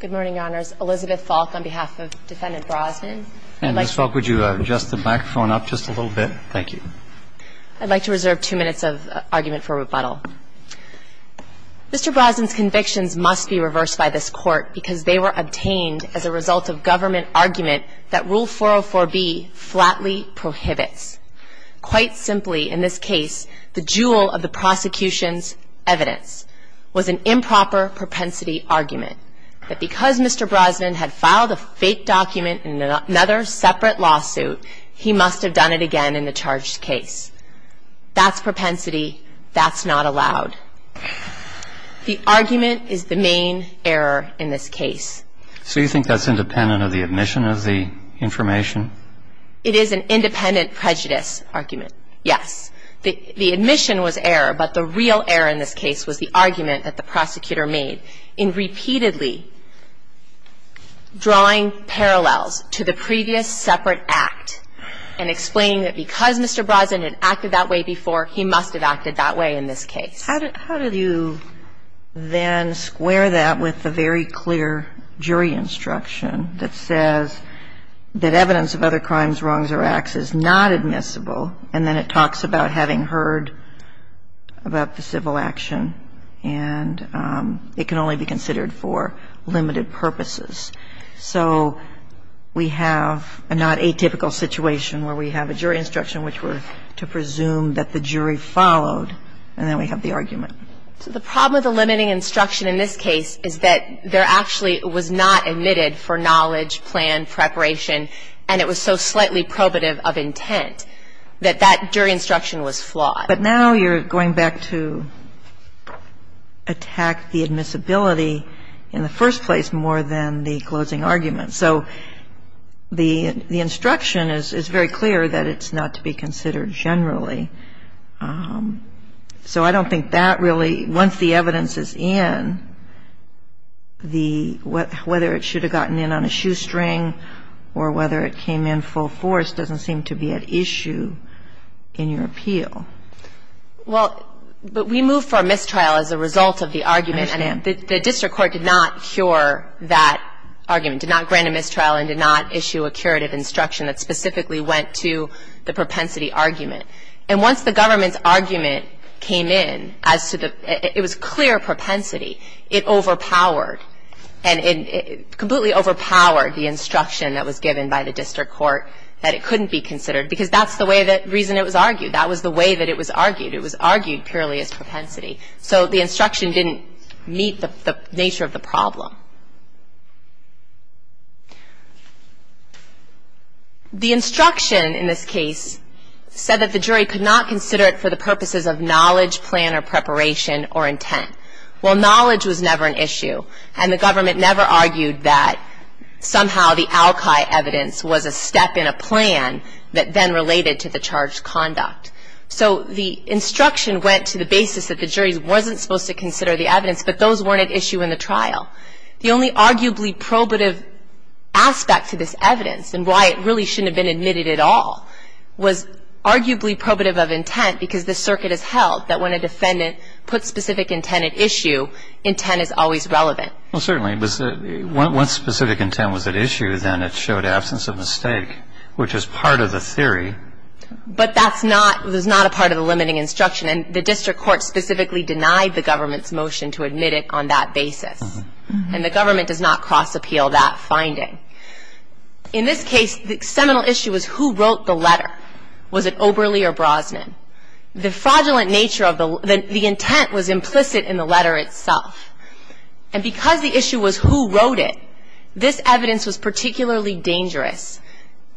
Good morning, Your Honors. Elizabeth Falk on behalf of Defendant Brosnan. Ms. Falk, would you adjust the microphone up just a little bit? Thank you. I'd like to reserve two minutes of argument for rebuttal. Mr. Brosnan's convictions must be reversed by this Court because they were obtained as a result of government argument that Rule 404b flatly prohibits. Quite simply, in this case, the jewel of the prosecution's evidence was an improper propensity argument, that because Mr. Brosnan had filed a fake document in another separate lawsuit, he must have done it again in the charged case. That's propensity. That's not allowed. The argument is the main error in this case. So you think that's independent of the admission of the information? It is an independent prejudice argument, yes. The admission was error, but the real error in this case was the argument that the prosecutor made in repeatedly drawing parallels to the previous separate act and explaining that because Mr. Brosnan had acted that way before, he must have acted that way in this case. How do you then square that with the very clear jury instruction that says that evidence of other crimes, wrongs, or acts is not admissible, and then it talks about having heard about the civil action, and it can only be considered for limited purposes? So we have a not atypical situation where we have a jury instruction which we're to presume that the jury followed, and then we have the argument. So the problem with the limiting instruction in this case is that there actually was not admitted for knowledge, plan, preparation, and it was so slightly probative of intent that that jury instruction was flawed. But now you're going back to attack the admissibility in the first place more than the closing argument. So the instruction is very clear that it's not to be considered generally. So I don't think that really, once the evidence is in, whether it should have gotten in on a shoestring or whether it came in full force doesn't seem to be at issue in your appeal. Well, but we moved for a mistrial as a result of the argument. I understand. The district court did not cure that argument, did not grant a mistrial and did not issue a curative instruction that specifically went to the propensity argument. And once the government's argument came in as to the, it was clear propensity, it overpowered and completely overpowered the instruction that was given by the district court that it couldn't be considered because that's the way, the reason it was argued. That was the way that it was argued. It was argued purely as propensity. So the instruction didn't meet the nature of the problem. The instruction in this case said that the jury could not consider it for the purposes of knowledge, plan or preparation or intent. Well, knowledge was never an issue and the government never argued that somehow the al-Qaeda evidence was a step in a plan that then related to the charged conduct. So the instruction went to the basis that the jury wasn't supposed to consider the evidence, but those weren't at issue in the trial. The only arguably probative aspect to this evidence and why it really shouldn't have been admitted at all was arguably probative of intent because the circuit has held that when a defendant puts specific intent at issue, intent is always relevant. Well, certainly. Once specific intent was at issue, then it showed absence of mistake, which is part of the theory. But that's not, it was not a part of the limiting instruction. And the district court specifically denied the government's motion to admit it on that basis. And the government does not cross-appeal that finding. In this case, the seminal issue was who wrote the letter. Was it Oberle or Brosnan? The fraudulent nature of the, the intent was implicit in the letter itself. And because the issue was who wrote it, this evidence was particularly dangerous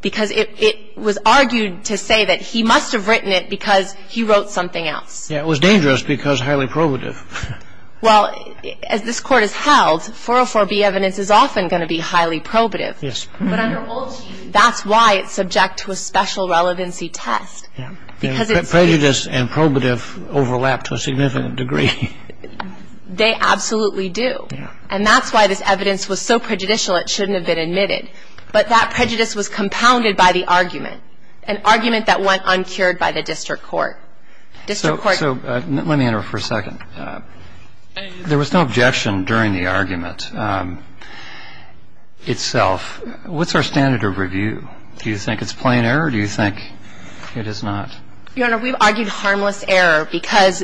because it was argued to say that he must have written it because he wrote something else. Yeah, it was dangerous because highly probative. Well, as this Court has held, 404B evidence is often going to be highly probative. Yes. But under Woolsey, that's why it's subject to a special relevancy test. Yeah. Prejudice and probative overlap to a significant degree. They absolutely do. Yeah. And that's why this evidence was so prejudicial it shouldn't have been admitted. But that prejudice was compounded by the argument, an argument that went uncured by the district court. So let me interrupt for a second. There was no objection during the argument itself. What's our standard of review? Do you think it's plain error or do you think it is not? Your Honor, we've argued harmless error because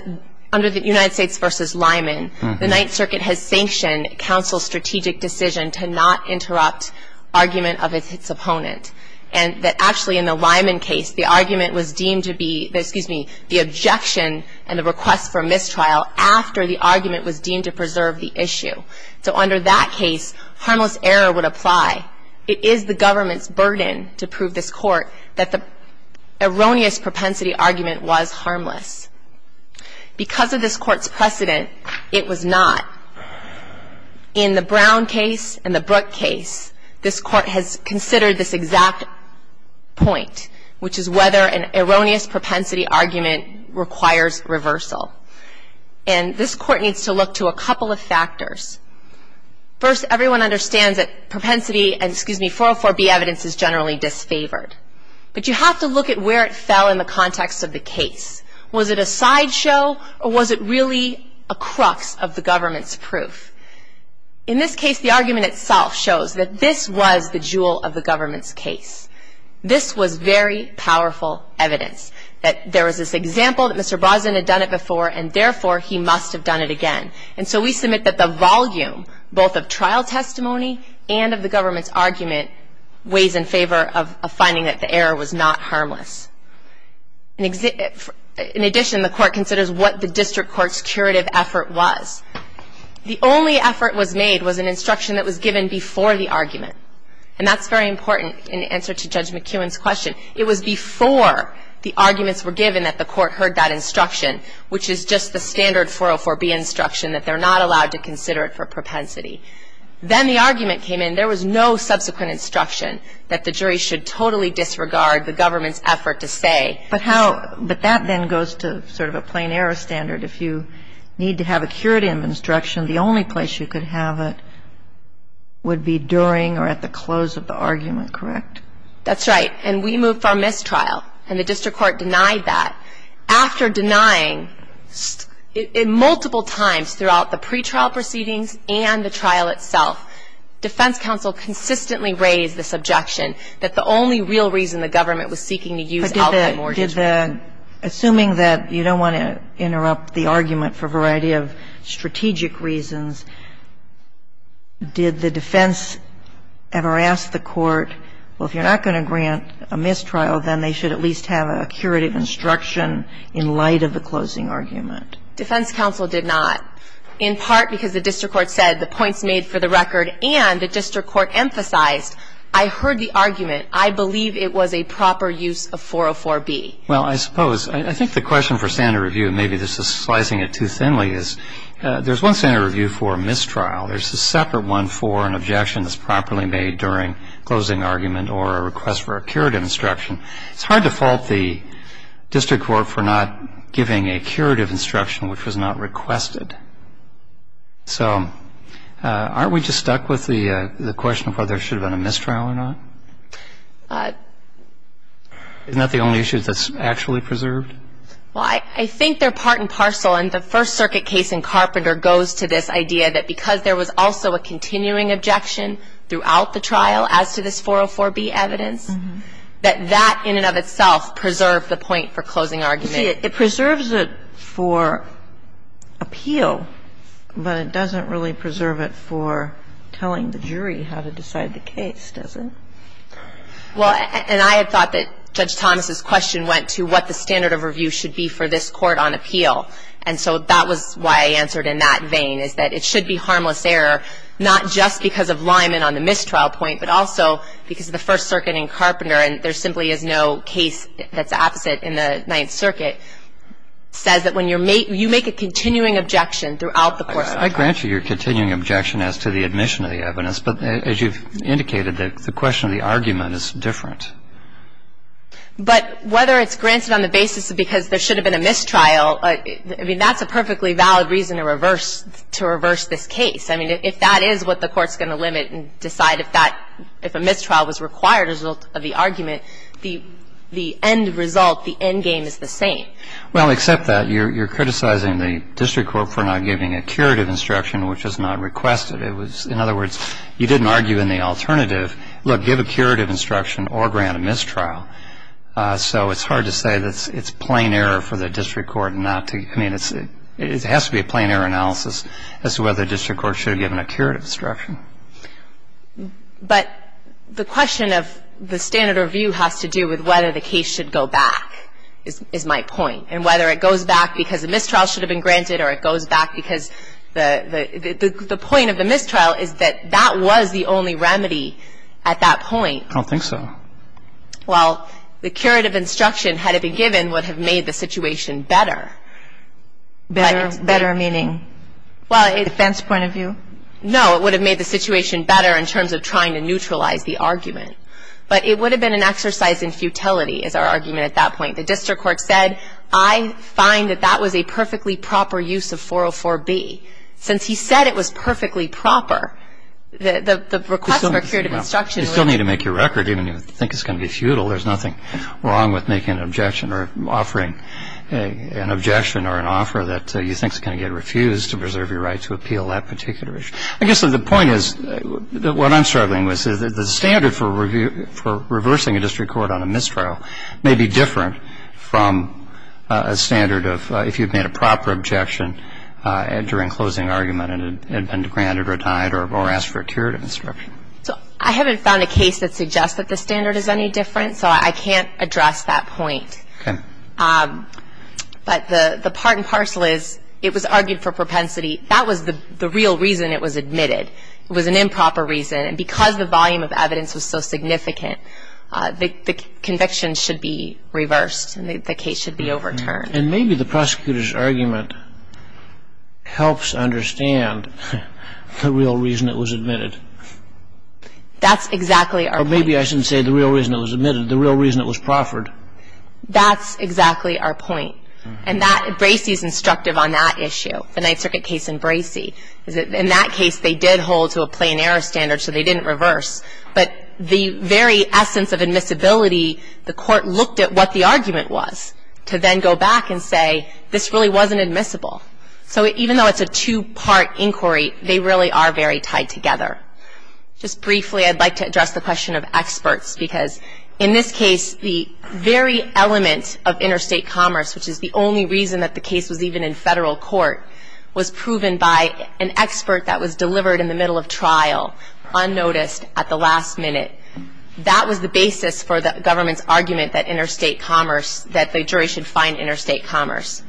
under the United States v. Lyman, the Ninth Circuit has sanctioned counsel's strategic decision to not interrupt argument of its opponent. And that actually in the Lyman case, the argument was deemed to be, excuse me, the objection and the request for mistrial after the argument was deemed to preserve the issue. So under that case, harmless error would apply. It is the government's burden to prove this Court that the erroneous propensity argument was harmless. Because of this Court's precedent, it was not. In the Brown case and the Brooke case, this Court has considered this exact point, which is whether an erroneous propensity argument requires reversal. And this Court needs to look to a couple of factors. First, everyone understands that propensity and, excuse me, 404B evidence is generally disfavored. But you have to look at where it fell in the context of the case. Was it a sideshow or was it really a crux of the government's proof? In this case, the argument itself shows that this was the jewel of the government's case. This was very powerful evidence that there was this example that Mr. Brosnan had done it before, and therefore he must have done it again. And so we submit that the volume, both of trial testimony and of the government's argument, weighs in favor of finding that the error was not harmless. In addition, the Court considers what the district court's curative effort was. The only effort was made was an instruction that was given before the argument. And that's very important in answer to Judge McKeown's question. It was before the arguments were given that the Court heard that instruction, which is just the standard 404B instruction that they're not allowed to consider it for propensity. Then the argument came in. There was no subsequent instruction that the jury should totally disregard the government's effort to say. But that then goes to sort of a plain error standard. If you need to have a curative instruction, the only place you could have it would be during or at the close of the argument, correct? That's right. And we moved from mistrial, and the district court denied that. After denying it multiple times throughout the pretrial proceedings and the trial itself, defense counsel consistently raised this objection that the only real reason the government was seeking to use Alcott Mortgage Revenue. But did the – assuming that you don't want to interrupt the argument for a variety of strategic reasons, did the defense ever ask the court, well, if you're not going to grant a mistrial, then they should at least have a curative instruction in light of the closing argument? Defense counsel did not, in part because the district court said the points made for the record and the district court emphasized, I heard the argument. I believe it was a proper use of 404B. Well, I suppose. I think the question for standard review, and maybe this is slicing it too thinly, is there's one standard review for a mistrial. There's a separate one for an objection that's properly made during closing argument or a request for a curative instruction. It's hard to fault the district court for not giving a curative instruction which was not requested. So aren't we just stuck with the question of whether there should have been a mistrial or not? Isn't that the only issue that's actually preserved? Well, I think they're part and parcel, and the First Circuit case in Carpenter goes to this idea that because there was also a continuing objection throughout the trial as to this 404B evidence, that that in and of itself preserved the point for closing argument. It preserves it for appeal, but it doesn't really preserve it for telling the jury how to decide the case, does it? Well, and I had thought that Judge Thomas's question went to what the standard of review should be for this court on appeal. And so that was why I answered in that vein, is that it should be harmless error not just because of Lyman on the mistrial point, but also because of the First Circuit in Carpenter, and there simply is no case that's opposite in the Ninth Circuit that is not harmful error. And so I think that's a good point. I think the Court's position is that the Fifth Circuit says that when you're making you make a continuing objection throughout the course of the trial. I grant you your continuing objection as to the admission of the evidence, but as you've indicated, the question of the argument is different. But whether it's granted on the basis of because there should have been a mistrial, I mean, that's a perfectly valid reason to reverse this case. I mean, if that is what the Court's going to limit and decide if that, if a mistrial was required as a result of the argument, the end result, the end game is the same. Well, except that you're criticizing the district court for not giving a curative instruction, which is not requested. It was, in other words, you didn't argue in the alternative, look, give a curative instruction or grant a mistrial. So it's hard to say that it's plain error for the district court not to, I mean, it has to be a plain error analysis as to whether the district court should have given a curative instruction. But the question of the standard review has to do with whether the case should go back is my point. And whether it goes back because a mistrial should have been granted or it goes back because the point of the mistrial is that that was the only remedy at that point. I don't think so. But it would have been an exercise in futility, is our argument at that point. The district court said, I find that that was a perfectly proper use of 404B. Since he said it was perfectly proper, the request for curative instruction would have been. You still need to make your record, even if you think it's going to be futile, there's nothing wrong with making an objection or offering a curative instruction to the district court. I guess the point is, what I'm struggling with is the standard for reversing a district court on a mistrial may be different from a standard of if you've made a proper objection during closing argument and it had been granted or died or asked for a curative instruction. So I haven't found a case that suggests that the standard is any different, so I can't address that point. Okay. But the part and parcel is, it was argued for propensity. That was the real reason it was admitted. It was an improper reason. And because the volume of evidence was so significant, the conviction should be reversed and the case should be overturned. And maybe the prosecutor's argument helps understand the real reason it was admitted. That's exactly our point. Or maybe I shouldn't say the real reason it was admitted, the real reason it was proffered. That's exactly our point. And Bracey is instructive on that issue, the Ninth Circuit case in Bracey. In that case, they did hold to a plain error standard, so they didn't reverse. But the very essence of admissibility, the court looked at what the argument was to then go back and say, this really wasn't admissible. So even though it's a two-part inquiry, they really are very tied together. Just briefly, I'd like to address the question of experts, because in this case, the very element of interstate commerce, which is the only reason that the case was even in federal court, was proven by an expert that was delivered in the middle of trial, unnoticed, at the last minute. That was the basis for the government's argument that interstate commerce, that the jury should find interstate commerce.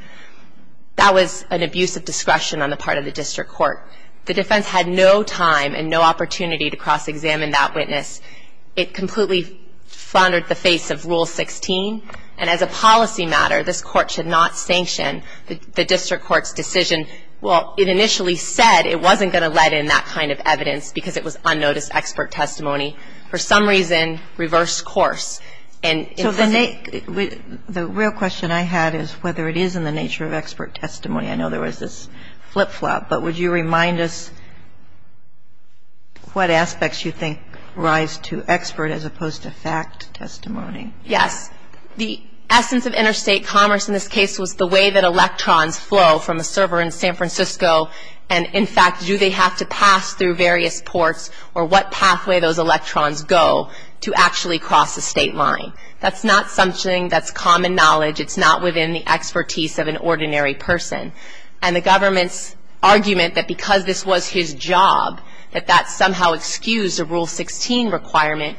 That was an abuse of discretion on the part of the district court. The defense had no time and no opportunity to cross-examine that witness. It completely floundered the face of Rule 16. And as a policy matter, this Court should not sanction the district court's decision. Well, it initially said it wasn't going to let in that kind of evidence because it was unnoticed expert testimony. For some reason, reverse course. And if the name of the real question I had is whether it is in the nature of expert testimony. I know there was this flip-flop, but would you remind us what aspects you think rise to expert as opposed to fact testimony? Yes. The essence of interstate commerce in this case was the way that electrons flow from a server in San Francisco. And, in fact, do they have to pass through various ports or what pathway those electrons go to actually cross the state line. That's not something that's common knowledge. It's not within the expertise of an ordinary person. And the government's argument that because this was his job, that that somehow excused a Rule 16 requirement,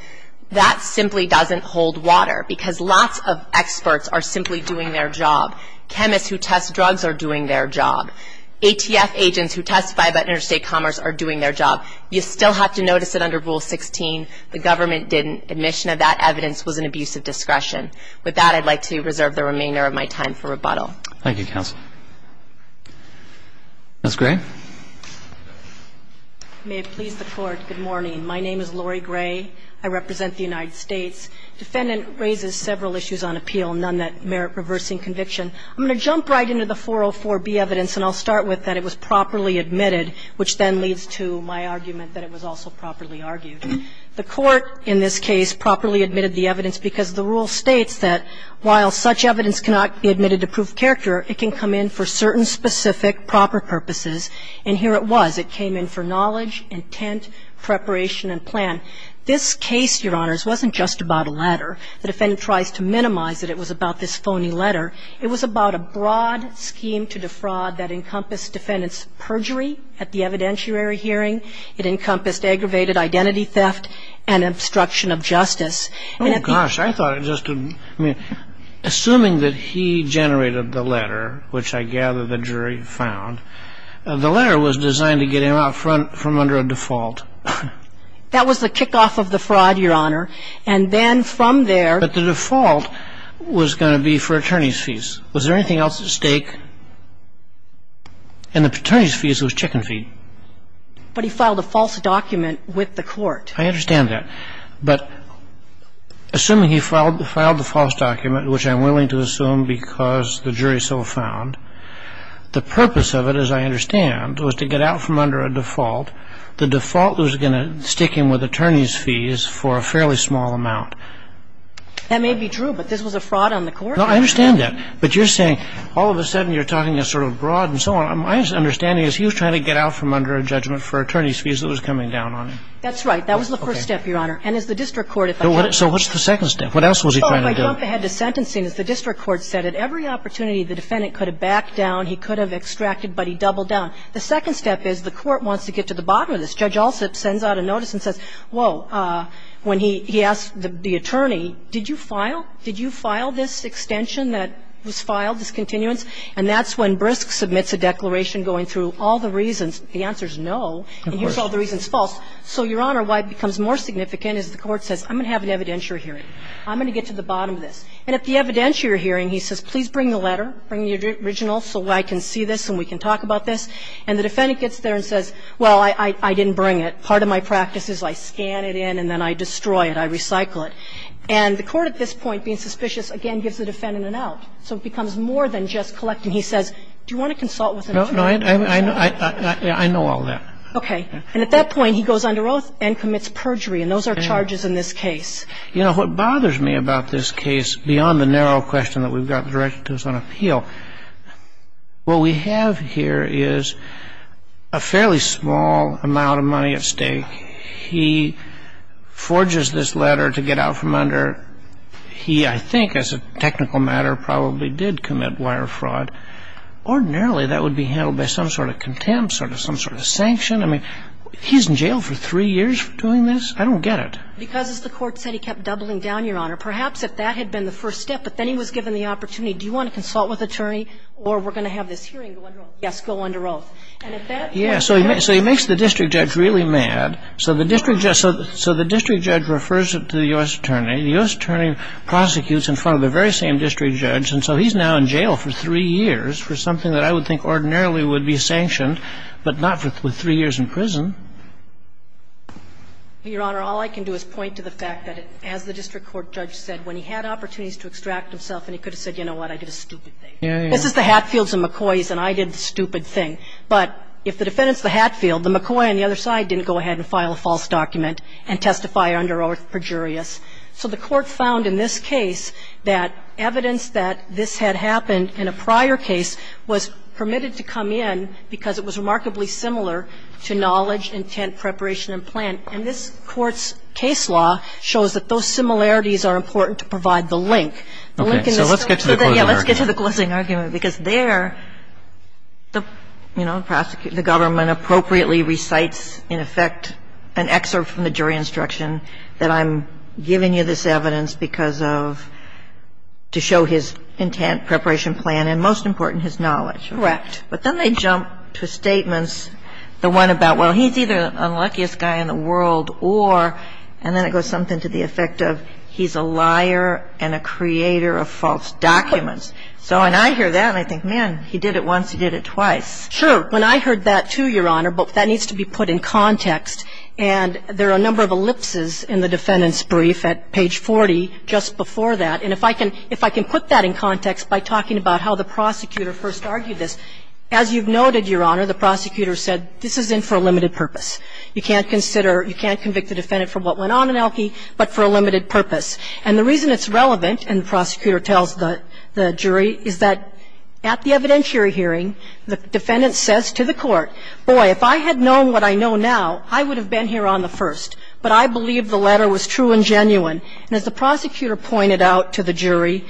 that simply doesn't hold water because lots of experts are simply doing their job. Chemists who test drugs are doing their job. ATF agents who testify about interstate commerce are doing their job. You still have to notice that under Rule 16, the government didn't. Admission of that evidence was an abuse of discretion. With that, I'd like to reserve the remainder of my time for rebuttal. Thank you, counsel. Ms. Gray. May it please the Court. Good morning. My name is Lori Gray. I represent the United States. Defendant raises several issues on appeal, none that merit reversing conviction. I'm going to jump right into the 404b evidence, and I'll start with that it was properly admitted, which then leads to my argument that it was also properly argued. The Court in this case properly admitted the evidence because the rule states that while such evidence cannot be admitted to proof of character, it can come in for certain specific proper purposes. And here it was. It came in for knowledge, intent, preparation, and plan. This case, Your Honors, wasn't just about a letter. The defendant tries to minimize that it was about this phony letter. It was about a broad scheme to defraud that encompassed defendant's perjury at the evidentiary hearing. It encompassed aggravated identity theft and obstruction of justice. Oh, gosh. I thought it just, I mean, assuming that he generated the letter, which I gather the jury found, the letter was designed to get him out front from under a default. That was the kickoff of the fraud, Your Honor. And then from there. But the default was going to be fraternity's fees. Was there anything else at stake? And the fraternity's fees was chicken feed. But he filed a false document with the Court. I understand that. But assuming he filed the false document, which I'm willing to assume because the jury so found, the purpose of it, as I understand, was to get out from under a default. The default was going to stick him with attorney's fees for a fairly small amount. That may be true, but this was a fraud on the court. No, I understand that. But you're saying all of a sudden you're talking sort of broad and so on. My understanding is he was trying to get out from under a judgment for attorney's fees that was coming down on him. That's right. That was the first step, Your Honor. And as the district court, if I could. So what's the second step? What else was he trying to do? Oh, if I jump ahead to sentencing, as the district court said, at every opportunity the defendant could have backed down, he could have extracted, but he doubled down. The second step is the Court wants to get to the bottom of this. Judge Alsup sends out a notice and says, whoa, when he asked the attorney, did you file? Did you file this extension that was filed, this continuance? And that's when Brisk submits a declaration going through all the reasons. The answer is no. Of course. And here's all the reasons false. So, Your Honor, why it becomes more significant is the Court says, I'm going to have an evidentiary hearing. I'm going to get to the bottom of this. And at the evidentiary hearing, he says, please bring the letter, bring the original so I can see this and we can talk about this. And the defendant gets there and says, well, I didn't bring it. Part of my practice is I scan it in and then I destroy it, I recycle it. And the Court at this point, being suspicious, again gives the defendant an out. So it becomes more than just collecting. He says, do you want to consult with an attorney? No, I know all that. Okay. And at that point, he goes under oath and commits perjury. And those are charges in this case. You know, what bothers me about this case, beyond the narrow question that we've got directed to us on appeal, what we have here is a fairly small amount of money at stake. He forges this letter to get out from under he, I think, as a technical matter, probably did commit wire fraud. Ordinarily, that would be handled by some sort of contempt, some sort of sanction. I mean, he's in jail for three years for doing this? I don't get it. Because, as the Court said, he kept doubling down, Your Honor. Perhaps if that had been the first step, but then he was given the opportunity, do you want to consult with an attorney or we're going to have this hearing go under oath? Yes, go under oath. And at that point he goes under oath. Yes. So he makes the district judge really mad. So the district judge refers it to the U.S. attorney. The U.S. attorney prosecutes in front of the very same district judge. And so he's now in jail for three years for something that I would think ordinarily would be sanctioned, but not for three years in prison. Your Honor, all I can do is point to the fact that, as the district court judge said, when he had opportunities to extract himself and he could have said, you know what, I did a stupid thing. Yeah, yeah. This is the Hatfields and McCoys and I did the stupid thing. But if the defendant's the Hatfield, the McCoy on the other side didn't go ahead and file a false document and testify under oath perjurious. So the Court found in this case that evidence that this had happened in a prior case was permitted to come in because it was remarkably similar to knowledge, intent, preparation, and plan. And this Court's case law shows that those similarities are important to provide the link. Okay. So let's get to the closing argument. Yeah, let's get to the closing argument, because there, you know, the government appropriately recites, in effect, an excerpt from the jury instruction that I'm giving you this evidence because of, to show his intent, preparation, plan, and most important, his knowledge. Correct. But then they jump to statements, the one about, well, he's either the luckiest guy in the world or, and then it goes something to the effect of, he's a liar and a creator of false documents. So when I hear that, I think, man, he did it once, he did it twice. Sure. When I heard that, too, Your Honor, but that needs to be put in context. And there are a number of ellipses in the defendant's brief at page 40 just before that. And if I can, if I can put that in context by talking about how the prosecutor first argued this, as you've noted, Your Honor, the prosecutor said this is in for a limited purpose. You can't consider, you can't convict the defendant for what went on in Elkey, but for a limited purpose. And the reason it's relevant, and the prosecutor tells the jury, is that at the evidentiary hearing, the defendant says to the Court, boy, if I had known what I know now, I would have been here on the first. But I believe the letter was true and genuine. And as the prosecutor pointed out to the jury,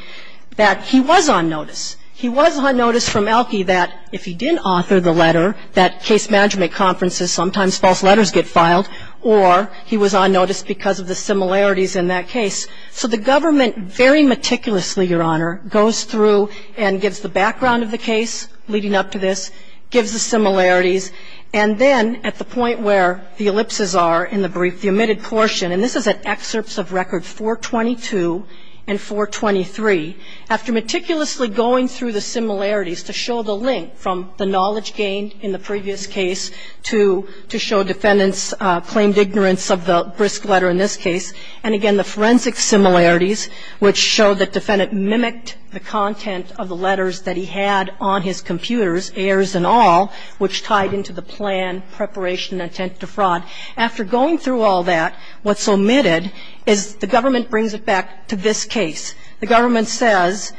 that he was on notice. He was on notice from Elkey that if he didn't author the letter, that case management conferences, sometimes false letters get filed, or he was on notice because of the similarities in that case. So the government very meticulously, Your Honor, goes through and gives the background of the case leading up to this, gives the similarities, and then at the point where the ellipses are in the brief, the omitted portion, and this is at excerpts of record 422 and 423, after meticulously going through the similarities to show the link from the knowledge gained in the previous case to show defendants' claimed ignorance of the brisk letter in this case, and again, the forensic similarities, which show the defendant mimicked the content of the letters that he had on his computers, errors and all, which tied into the plan, preparation, intent to fraud. After going through all that, what's omitted is the government brings it back to this case. The government says,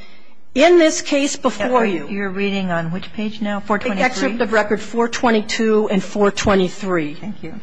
in this case before you. You're reading on which page now, 423? Excerpt of record 422 and 423. Thank you.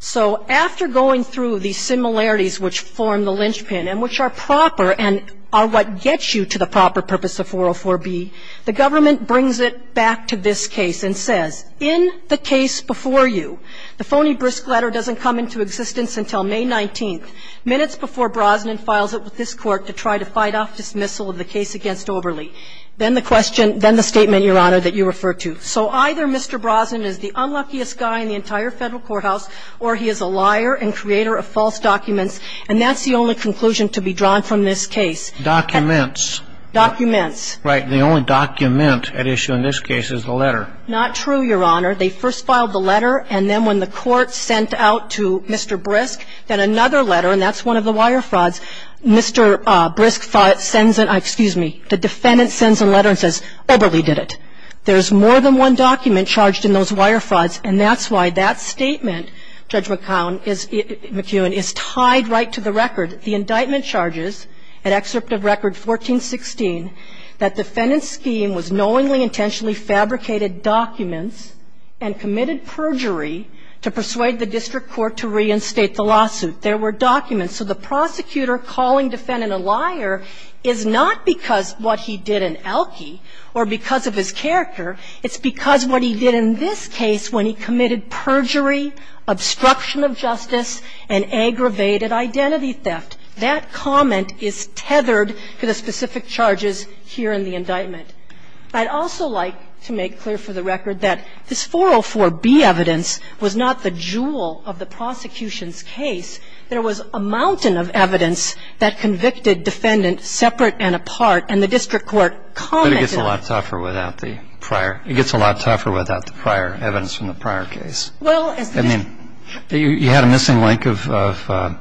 So after going through the similarities which form the linchpin and which are proper and are what gets you to the proper purpose of 404B, the government brings it back to this case and says, in the case before you, the phony brisk letter doesn't come into existence until May 19th, minutes before Brosnan files it with this Court to try to fight off dismissal of the case against Oberle. Then the question, then the statement, Your Honor, that you refer to. So either Mr. Brosnan is the unluckiest guy in the entire Federal courthouse or he is a liar and creator of false documents, and that's the only conclusion to be drawn from this case. Documents. Documents. Right. And the only document at issue in this case is the letter. Not true, Your Honor. They first filed the letter, and then when the Court sent out to Mr. Brisk, then another letter, and that's one of the wire frauds. Mr. Brisk files it, sends it, excuse me, the defendant sends a letter and says, Oberle did it. There's more than one document charged in those wire frauds, and that's why that statement, Judge McKeown, is tied right to the record. The indictment charges, an excerpt of Record 1416, that defendant's scheme was knowingly intentionally fabricated documents and committed perjury to persuade the district court to reinstate the lawsuit. There were documents. So the prosecutor calling defendant a liar is not because of what he did in Elkey or because of his character. It's because what he did in this case when he committed perjury, obstruction of justice, and aggravated identity theft. That comment is tethered to the specific charges here in the indictment. I'd also like to make clear for the record that this 404B evidence was not the jewel of the prosecution's case. There was a mountain of evidence that convicted defendant separate and apart, and the district court commented on it. But it gets a lot tougher without the prior. It gets a lot tougher without the prior evidence from the prior case. I mean, you had a missing link of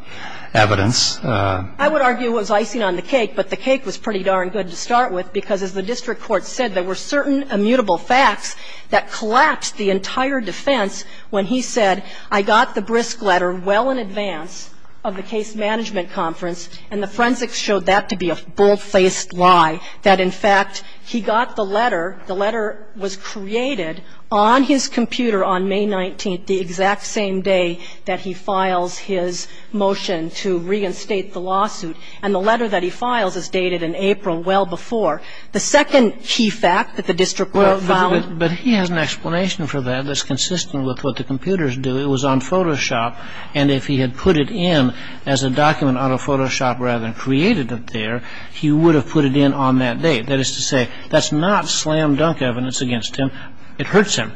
evidence. I would argue it was icing on the cake, but the cake was pretty darn good to start with, because as the district court said, there were certain immutable facts that collapsed the entire defense when he said, I got the brisk letter well in advance of the case management conference, and the forensics showed that to be a bold-faced lie, that, in fact, he got the letter, the letter was created on his computer on May 19th, the exact same day that he files his motion to reinstate the lawsuit, and the letter that he files is dated in April well before. The second key fact that the district court found was that he had an explanation for that that's consistent with what the computers do. It was on Photoshop, and if he had put it in as a document on a Photoshop rather than created it there, he would have put it in on that day. That is to say, that's not slam-dunk evidence against him. It hurts him.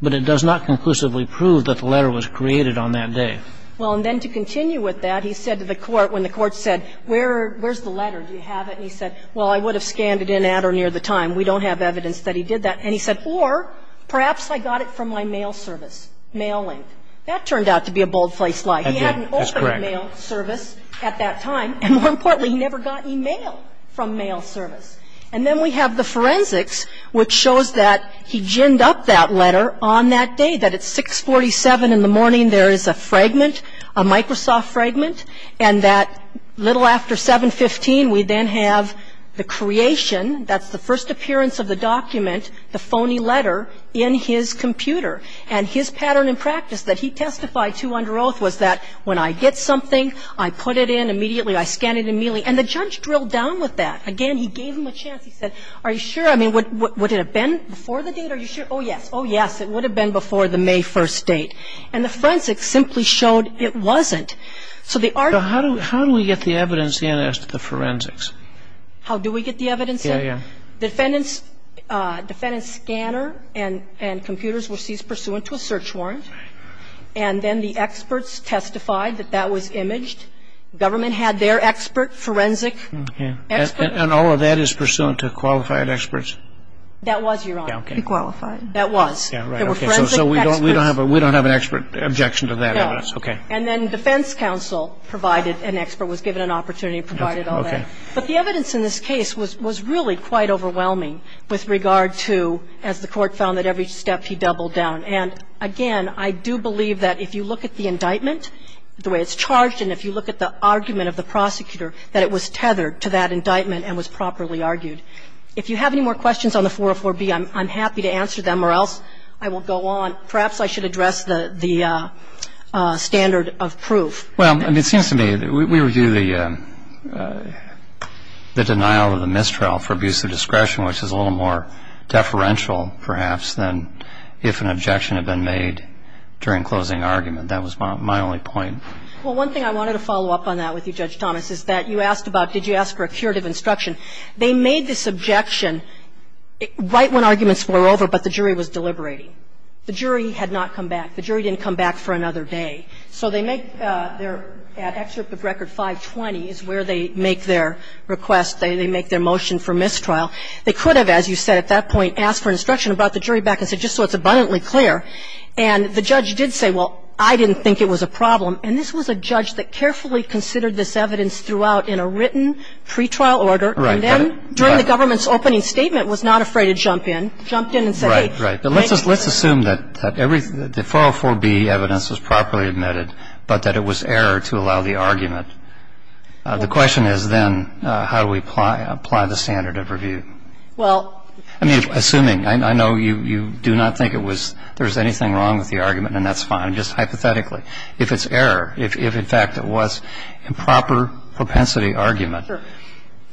But it does not conclusively prove that the letter was created on that day. Well, and then to continue with that, he said to the court, when the court said, where's the letter, do you have it, and he said, well, I would have scanned it in at or near the time. We don't have evidence that he did that. And he said, or perhaps I got it from my mail service, mail link. That turned out to be a bold-faced lie. He had an open mail service at that time. And more importantly, he never got email from mail service. And then we have the forensics, which shows that he ginned up that letter on that day, that at 647 in the morning, there is a fragment, a Microsoft fragment, and that little after 715, we then have the creation, that's the first appearance of the document, the phony letter in his computer. And his pattern and practice that he testified to under oath was that when I get something, I put it in immediately, I scan it immediately. And the judge drilled down with that. Again, he gave him a chance. He said, are you sure? I mean, would it have been before the date? Are you sure? Oh, yes. Oh, yes. It would have been before the May 1st date. And the forensics simply showed it wasn't. So the article ---- So how do we get the evidence in as to the forensics? How do we get the evidence in? Yeah, yeah. The defendant's scanner and computers were seized pursuant to a search warrant. Right. And then the experts testified that that was imaged. Government had their expert forensic expert. And all of that is pursuant to qualified experts? That was, Your Honor. Okay. Qualified. That was. Yeah, right. Okay. So we don't have an expert objection to that evidence? No. Okay. And then defense counsel provided an expert, was given an opportunity, provided all that. Okay. But the evidence in this case was really quite overwhelming with regard to, as the Court found, that every step he doubled down. And, again, I do believe that if you look at the indictment, the way it's charged, and if you look at the argument of the prosecutor, that it was tethered to that indictment and was properly argued. If you have any more questions on the 404B, I'm happy to answer them or else I will go on. Perhaps I should address the standard of proof. Well, I mean, it seems to me that we review the denial of the mistrial for abuse of discretion, which is a little more deferential, perhaps, than if an objection had been made during closing argument. That was my only point. Well, one thing I wanted to follow up on that with you, Judge Thomas, is that you asked about did you ask for a curative instruction. They made this objection right when arguments were over, but the jury was deliberating. The jury had not come back. The jury didn't come back for another day. So they make their excerpt of Record 520 is where they make their request. They make their motion for mistrial. They could have, as you said at that point, asked for an instruction and brought the jury back and said just so it's abundantly clear. And the judge did say, well, I didn't think it was a problem. And this was a judge that carefully considered this evidence throughout in a written pretrial order. Right. And then during the government's opening statement was not afraid to jump in. Jumped in and said, hey. Right. But let's assume that the 404B evidence was properly admitted, but that it was error to allow the argument. The question is then how do we apply the standard of review? Well. I mean, assuming. I know you do not think it was, there was anything wrong with the argument, and that's fine. Just hypothetically. If it's error, if in fact it was improper propensity argument,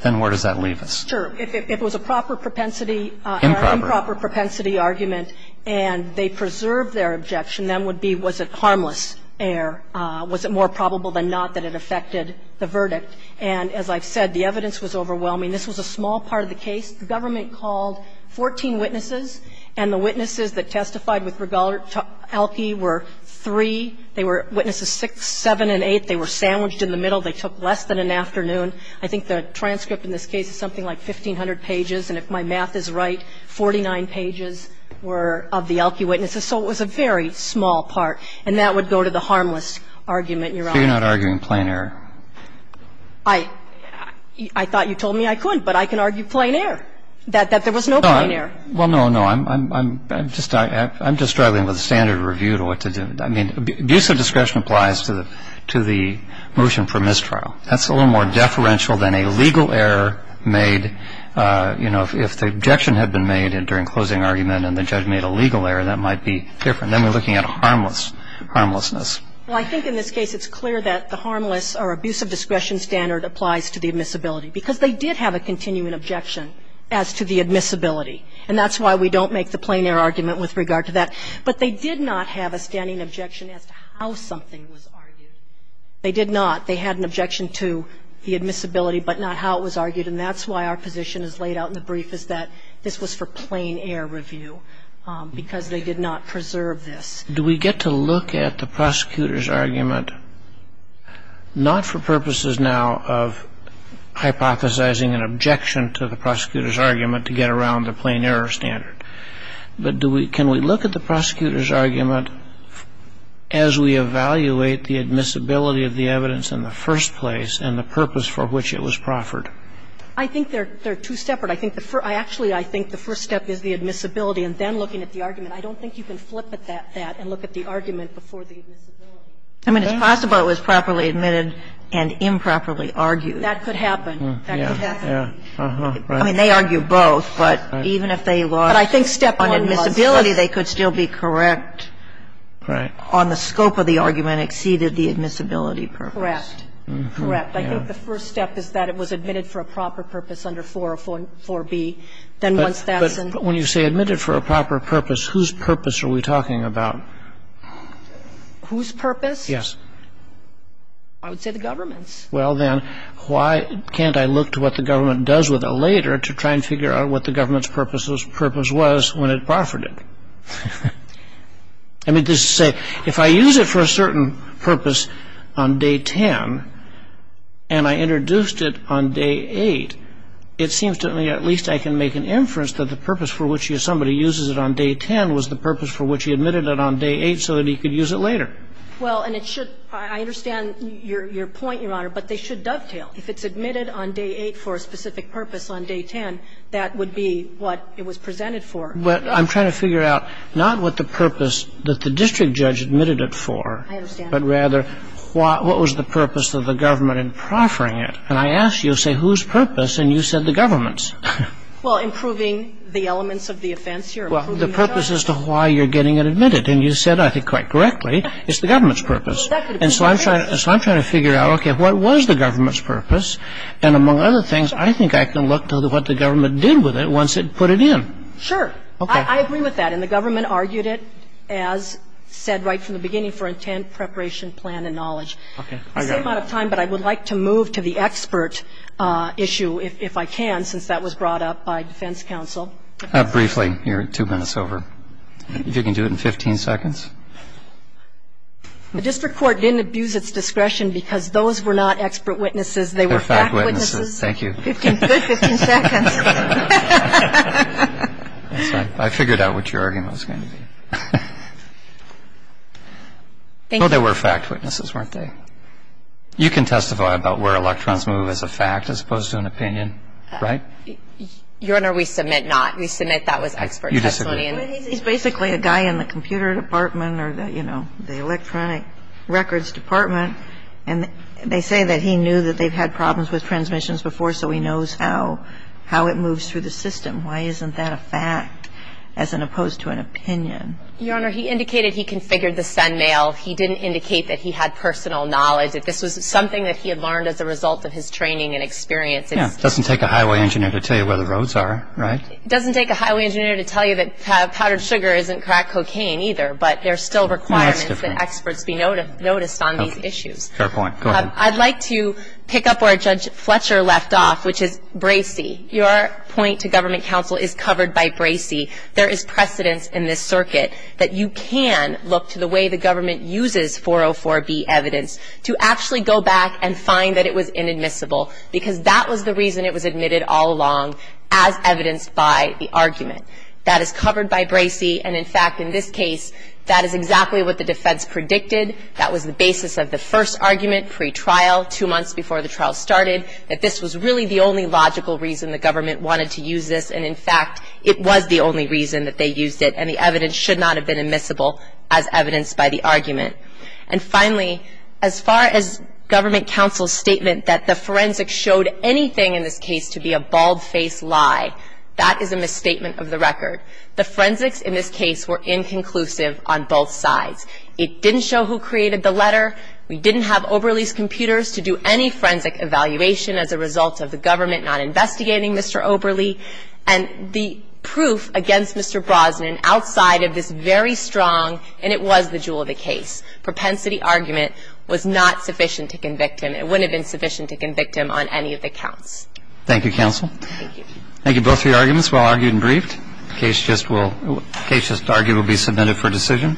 then where does that leave us? Sure. If it was a proper propensity or improper propensity argument and they preserved their objection, then would be was it harmless error? Was it more probable than not that it affected the verdict? And as I've said, the evidence was overwhelming. This was a small part of the case. The government called 14 witnesses, and the witnesses that testified with regard to Elkey were three. They were witnesses six, seven, and eight. They were sandwiched in the middle. They took less than an afternoon. I think the transcript in this case is something like 1,500 pages. And if my math is right, 49 pages were of the Elkey witnesses. So it was a very small part. And that would go to the harmless argument, Your Honor. So you're not arguing plain error? I thought you told me I could. But I can argue plain error, that there was no plain error. No. Well, no, no. I'm just struggling with the standard of review to what to do. I mean, abuse of discretion applies to the motion for mistrial. That's a little more deferential than a legal error made, you know, if the objection had been made during closing argument and the judge made a legal error, that might be different. Then we're looking at a harmless, harmlessness. Well, I think in this case it's clear that the harmless or abuse of discretion standard applies to the admissibility, because they did have a continuing objection as to the admissibility. And that's why we don't make the plain error argument with regard to that. But they did not have a standing objection as to how something was argued. They did not. They had an objection to the admissibility, but not how it was argued. And I think that's the reason why we're looking at the plain error standard and not the plain error review, because they did not preserve this. Do we get to look at the prosecutor's argument, not for purposes now of hypothesizing an objection to the prosecutor's argument to get around the plain error standard, but do we can we look at the prosecutor's argument as we evaluate the admissibility of the evidence in the first place and the purpose for which it was proffered? I think they're two separate. I think the first – actually, I think the first step is the admissibility and then looking at the argument. I don't think you can flip that and look at the argument before the admissibility. I mean, it's possible it was properly admitted and improperly argued. That could happen. That could happen. I mean, they argue both, but even if they lost on admissibility, they could still be correct. Right. I think the first step is that it was admitted for a proper purpose under 404B. Then once that's in – But when you say admitted for a proper purpose, whose purpose are we talking about? Whose purpose? Yes. I would say the government's. Well, then, why can't I look to what the government does with it later to try and figure out what the government's purpose was when it proffered it? I mean, just to say, if I use it for a certain purpose on day 10 and I introduced it on day 8, it seems to me at least I can make an inference that the purpose for which somebody uses it on day 10 was the purpose for which he admitted it on day 8 so that he could use it later. Well, and it should – I understand your point, Your Honor, but they should dovetail. If it's admitted on day 8 for a specific purpose on day 10, that would be what it was So I'm trying to figure out not what the purpose that the district judge admitted it for, but rather what was the purpose of the government in proffering it. And I ask you, I say, whose purpose? And you said the government's. Well, improving the elements of the offense here, improving the charge. Well, the purpose as to why you're getting it admitted. And you said, I think, quite correctly, it's the government's purpose. And so I'm trying to figure out, okay, what was the government's purpose? And among other things, I think I can look to what the government did with it once it put it in. Sure. Okay. I agree with that. And the government argued it, as said right from the beginning, for intent, preparation, plan and knowledge. Okay. I got it. I'm out of time, but I would like to move to the expert issue, if I can, since that was brought up by defense counsel. Briefly. You're two minutes over. If you can do it in 15 seconds. The district court didn't abuse its discretion because those were not expert witnesses. They were fact witnesses. Thank you. Good 15 seconds. I figured out what your argument was going to be. No, they were fact witnesses, weren't they? You can testify about where electrons move as a fact as opposed to an opinion, right? Your Honor, we submit not. We submit that was expert testimony. You disagree. He's basically a guy in the computer department or, you know, the electronic records department. And they say that he knew that they've had problems with transmissions before, so he knows how it moves through the system. Why isn't that a fact as opposed to an opinion? Your Honor, he indicated he configured the send mail. He didn't indicate that he had personal knowledge, that this was something that he had learned as a result of his training and experience. Yeah. It doesn't take a highway engineer to tell you where the roads are, right? It doesn't take a highway engineer to tell you that powdered sugar isn't crack cocaine, either. But there are still requirements that experts be noticed on these issues. Fair point. Go ahead. I'd like to pick up where Judge Fletcher left off, which is Bracey. Your point to government counsel is covered by Bracey. There is precedence in this circuit that you can look to the way the government uses 404B evidence to actually go back and find that it was inadmissible, because that was the reason it was admitted all along as evidenced by the argument. That is covered by Bracey. And, in fact, in this case, that is exactly what the defense predicted. That was the basis of the first argument pretrial, two months before the trial started, that this was really the only logical reason the government wanted to use this, and, in fact, it was the only reason that they used it, and the evidence should not have been admissible as evidenced by the argument. And, finally, as far as government counsel's statement that the forensics showed anything in this case to be a bald-faced lie, that is a misstatement of the record. The forensics in this case were inconclusive on both sides. It didn't show who created the letter. We didn't have Oberle's computers to do any forensic evaluation as a result of the government not investigating Mr. Oberle. And the proof against Mr. Brosnan outside of this very strong, and it was the jewel of the case, propensity argument was not sufficient to convict him. It wouldn't have been sufficient to convict him on any of the counts. Thank you, counsel. Thank you. Thank you, both of your arguments, well argued and briefed. The case just will be submitted for decision.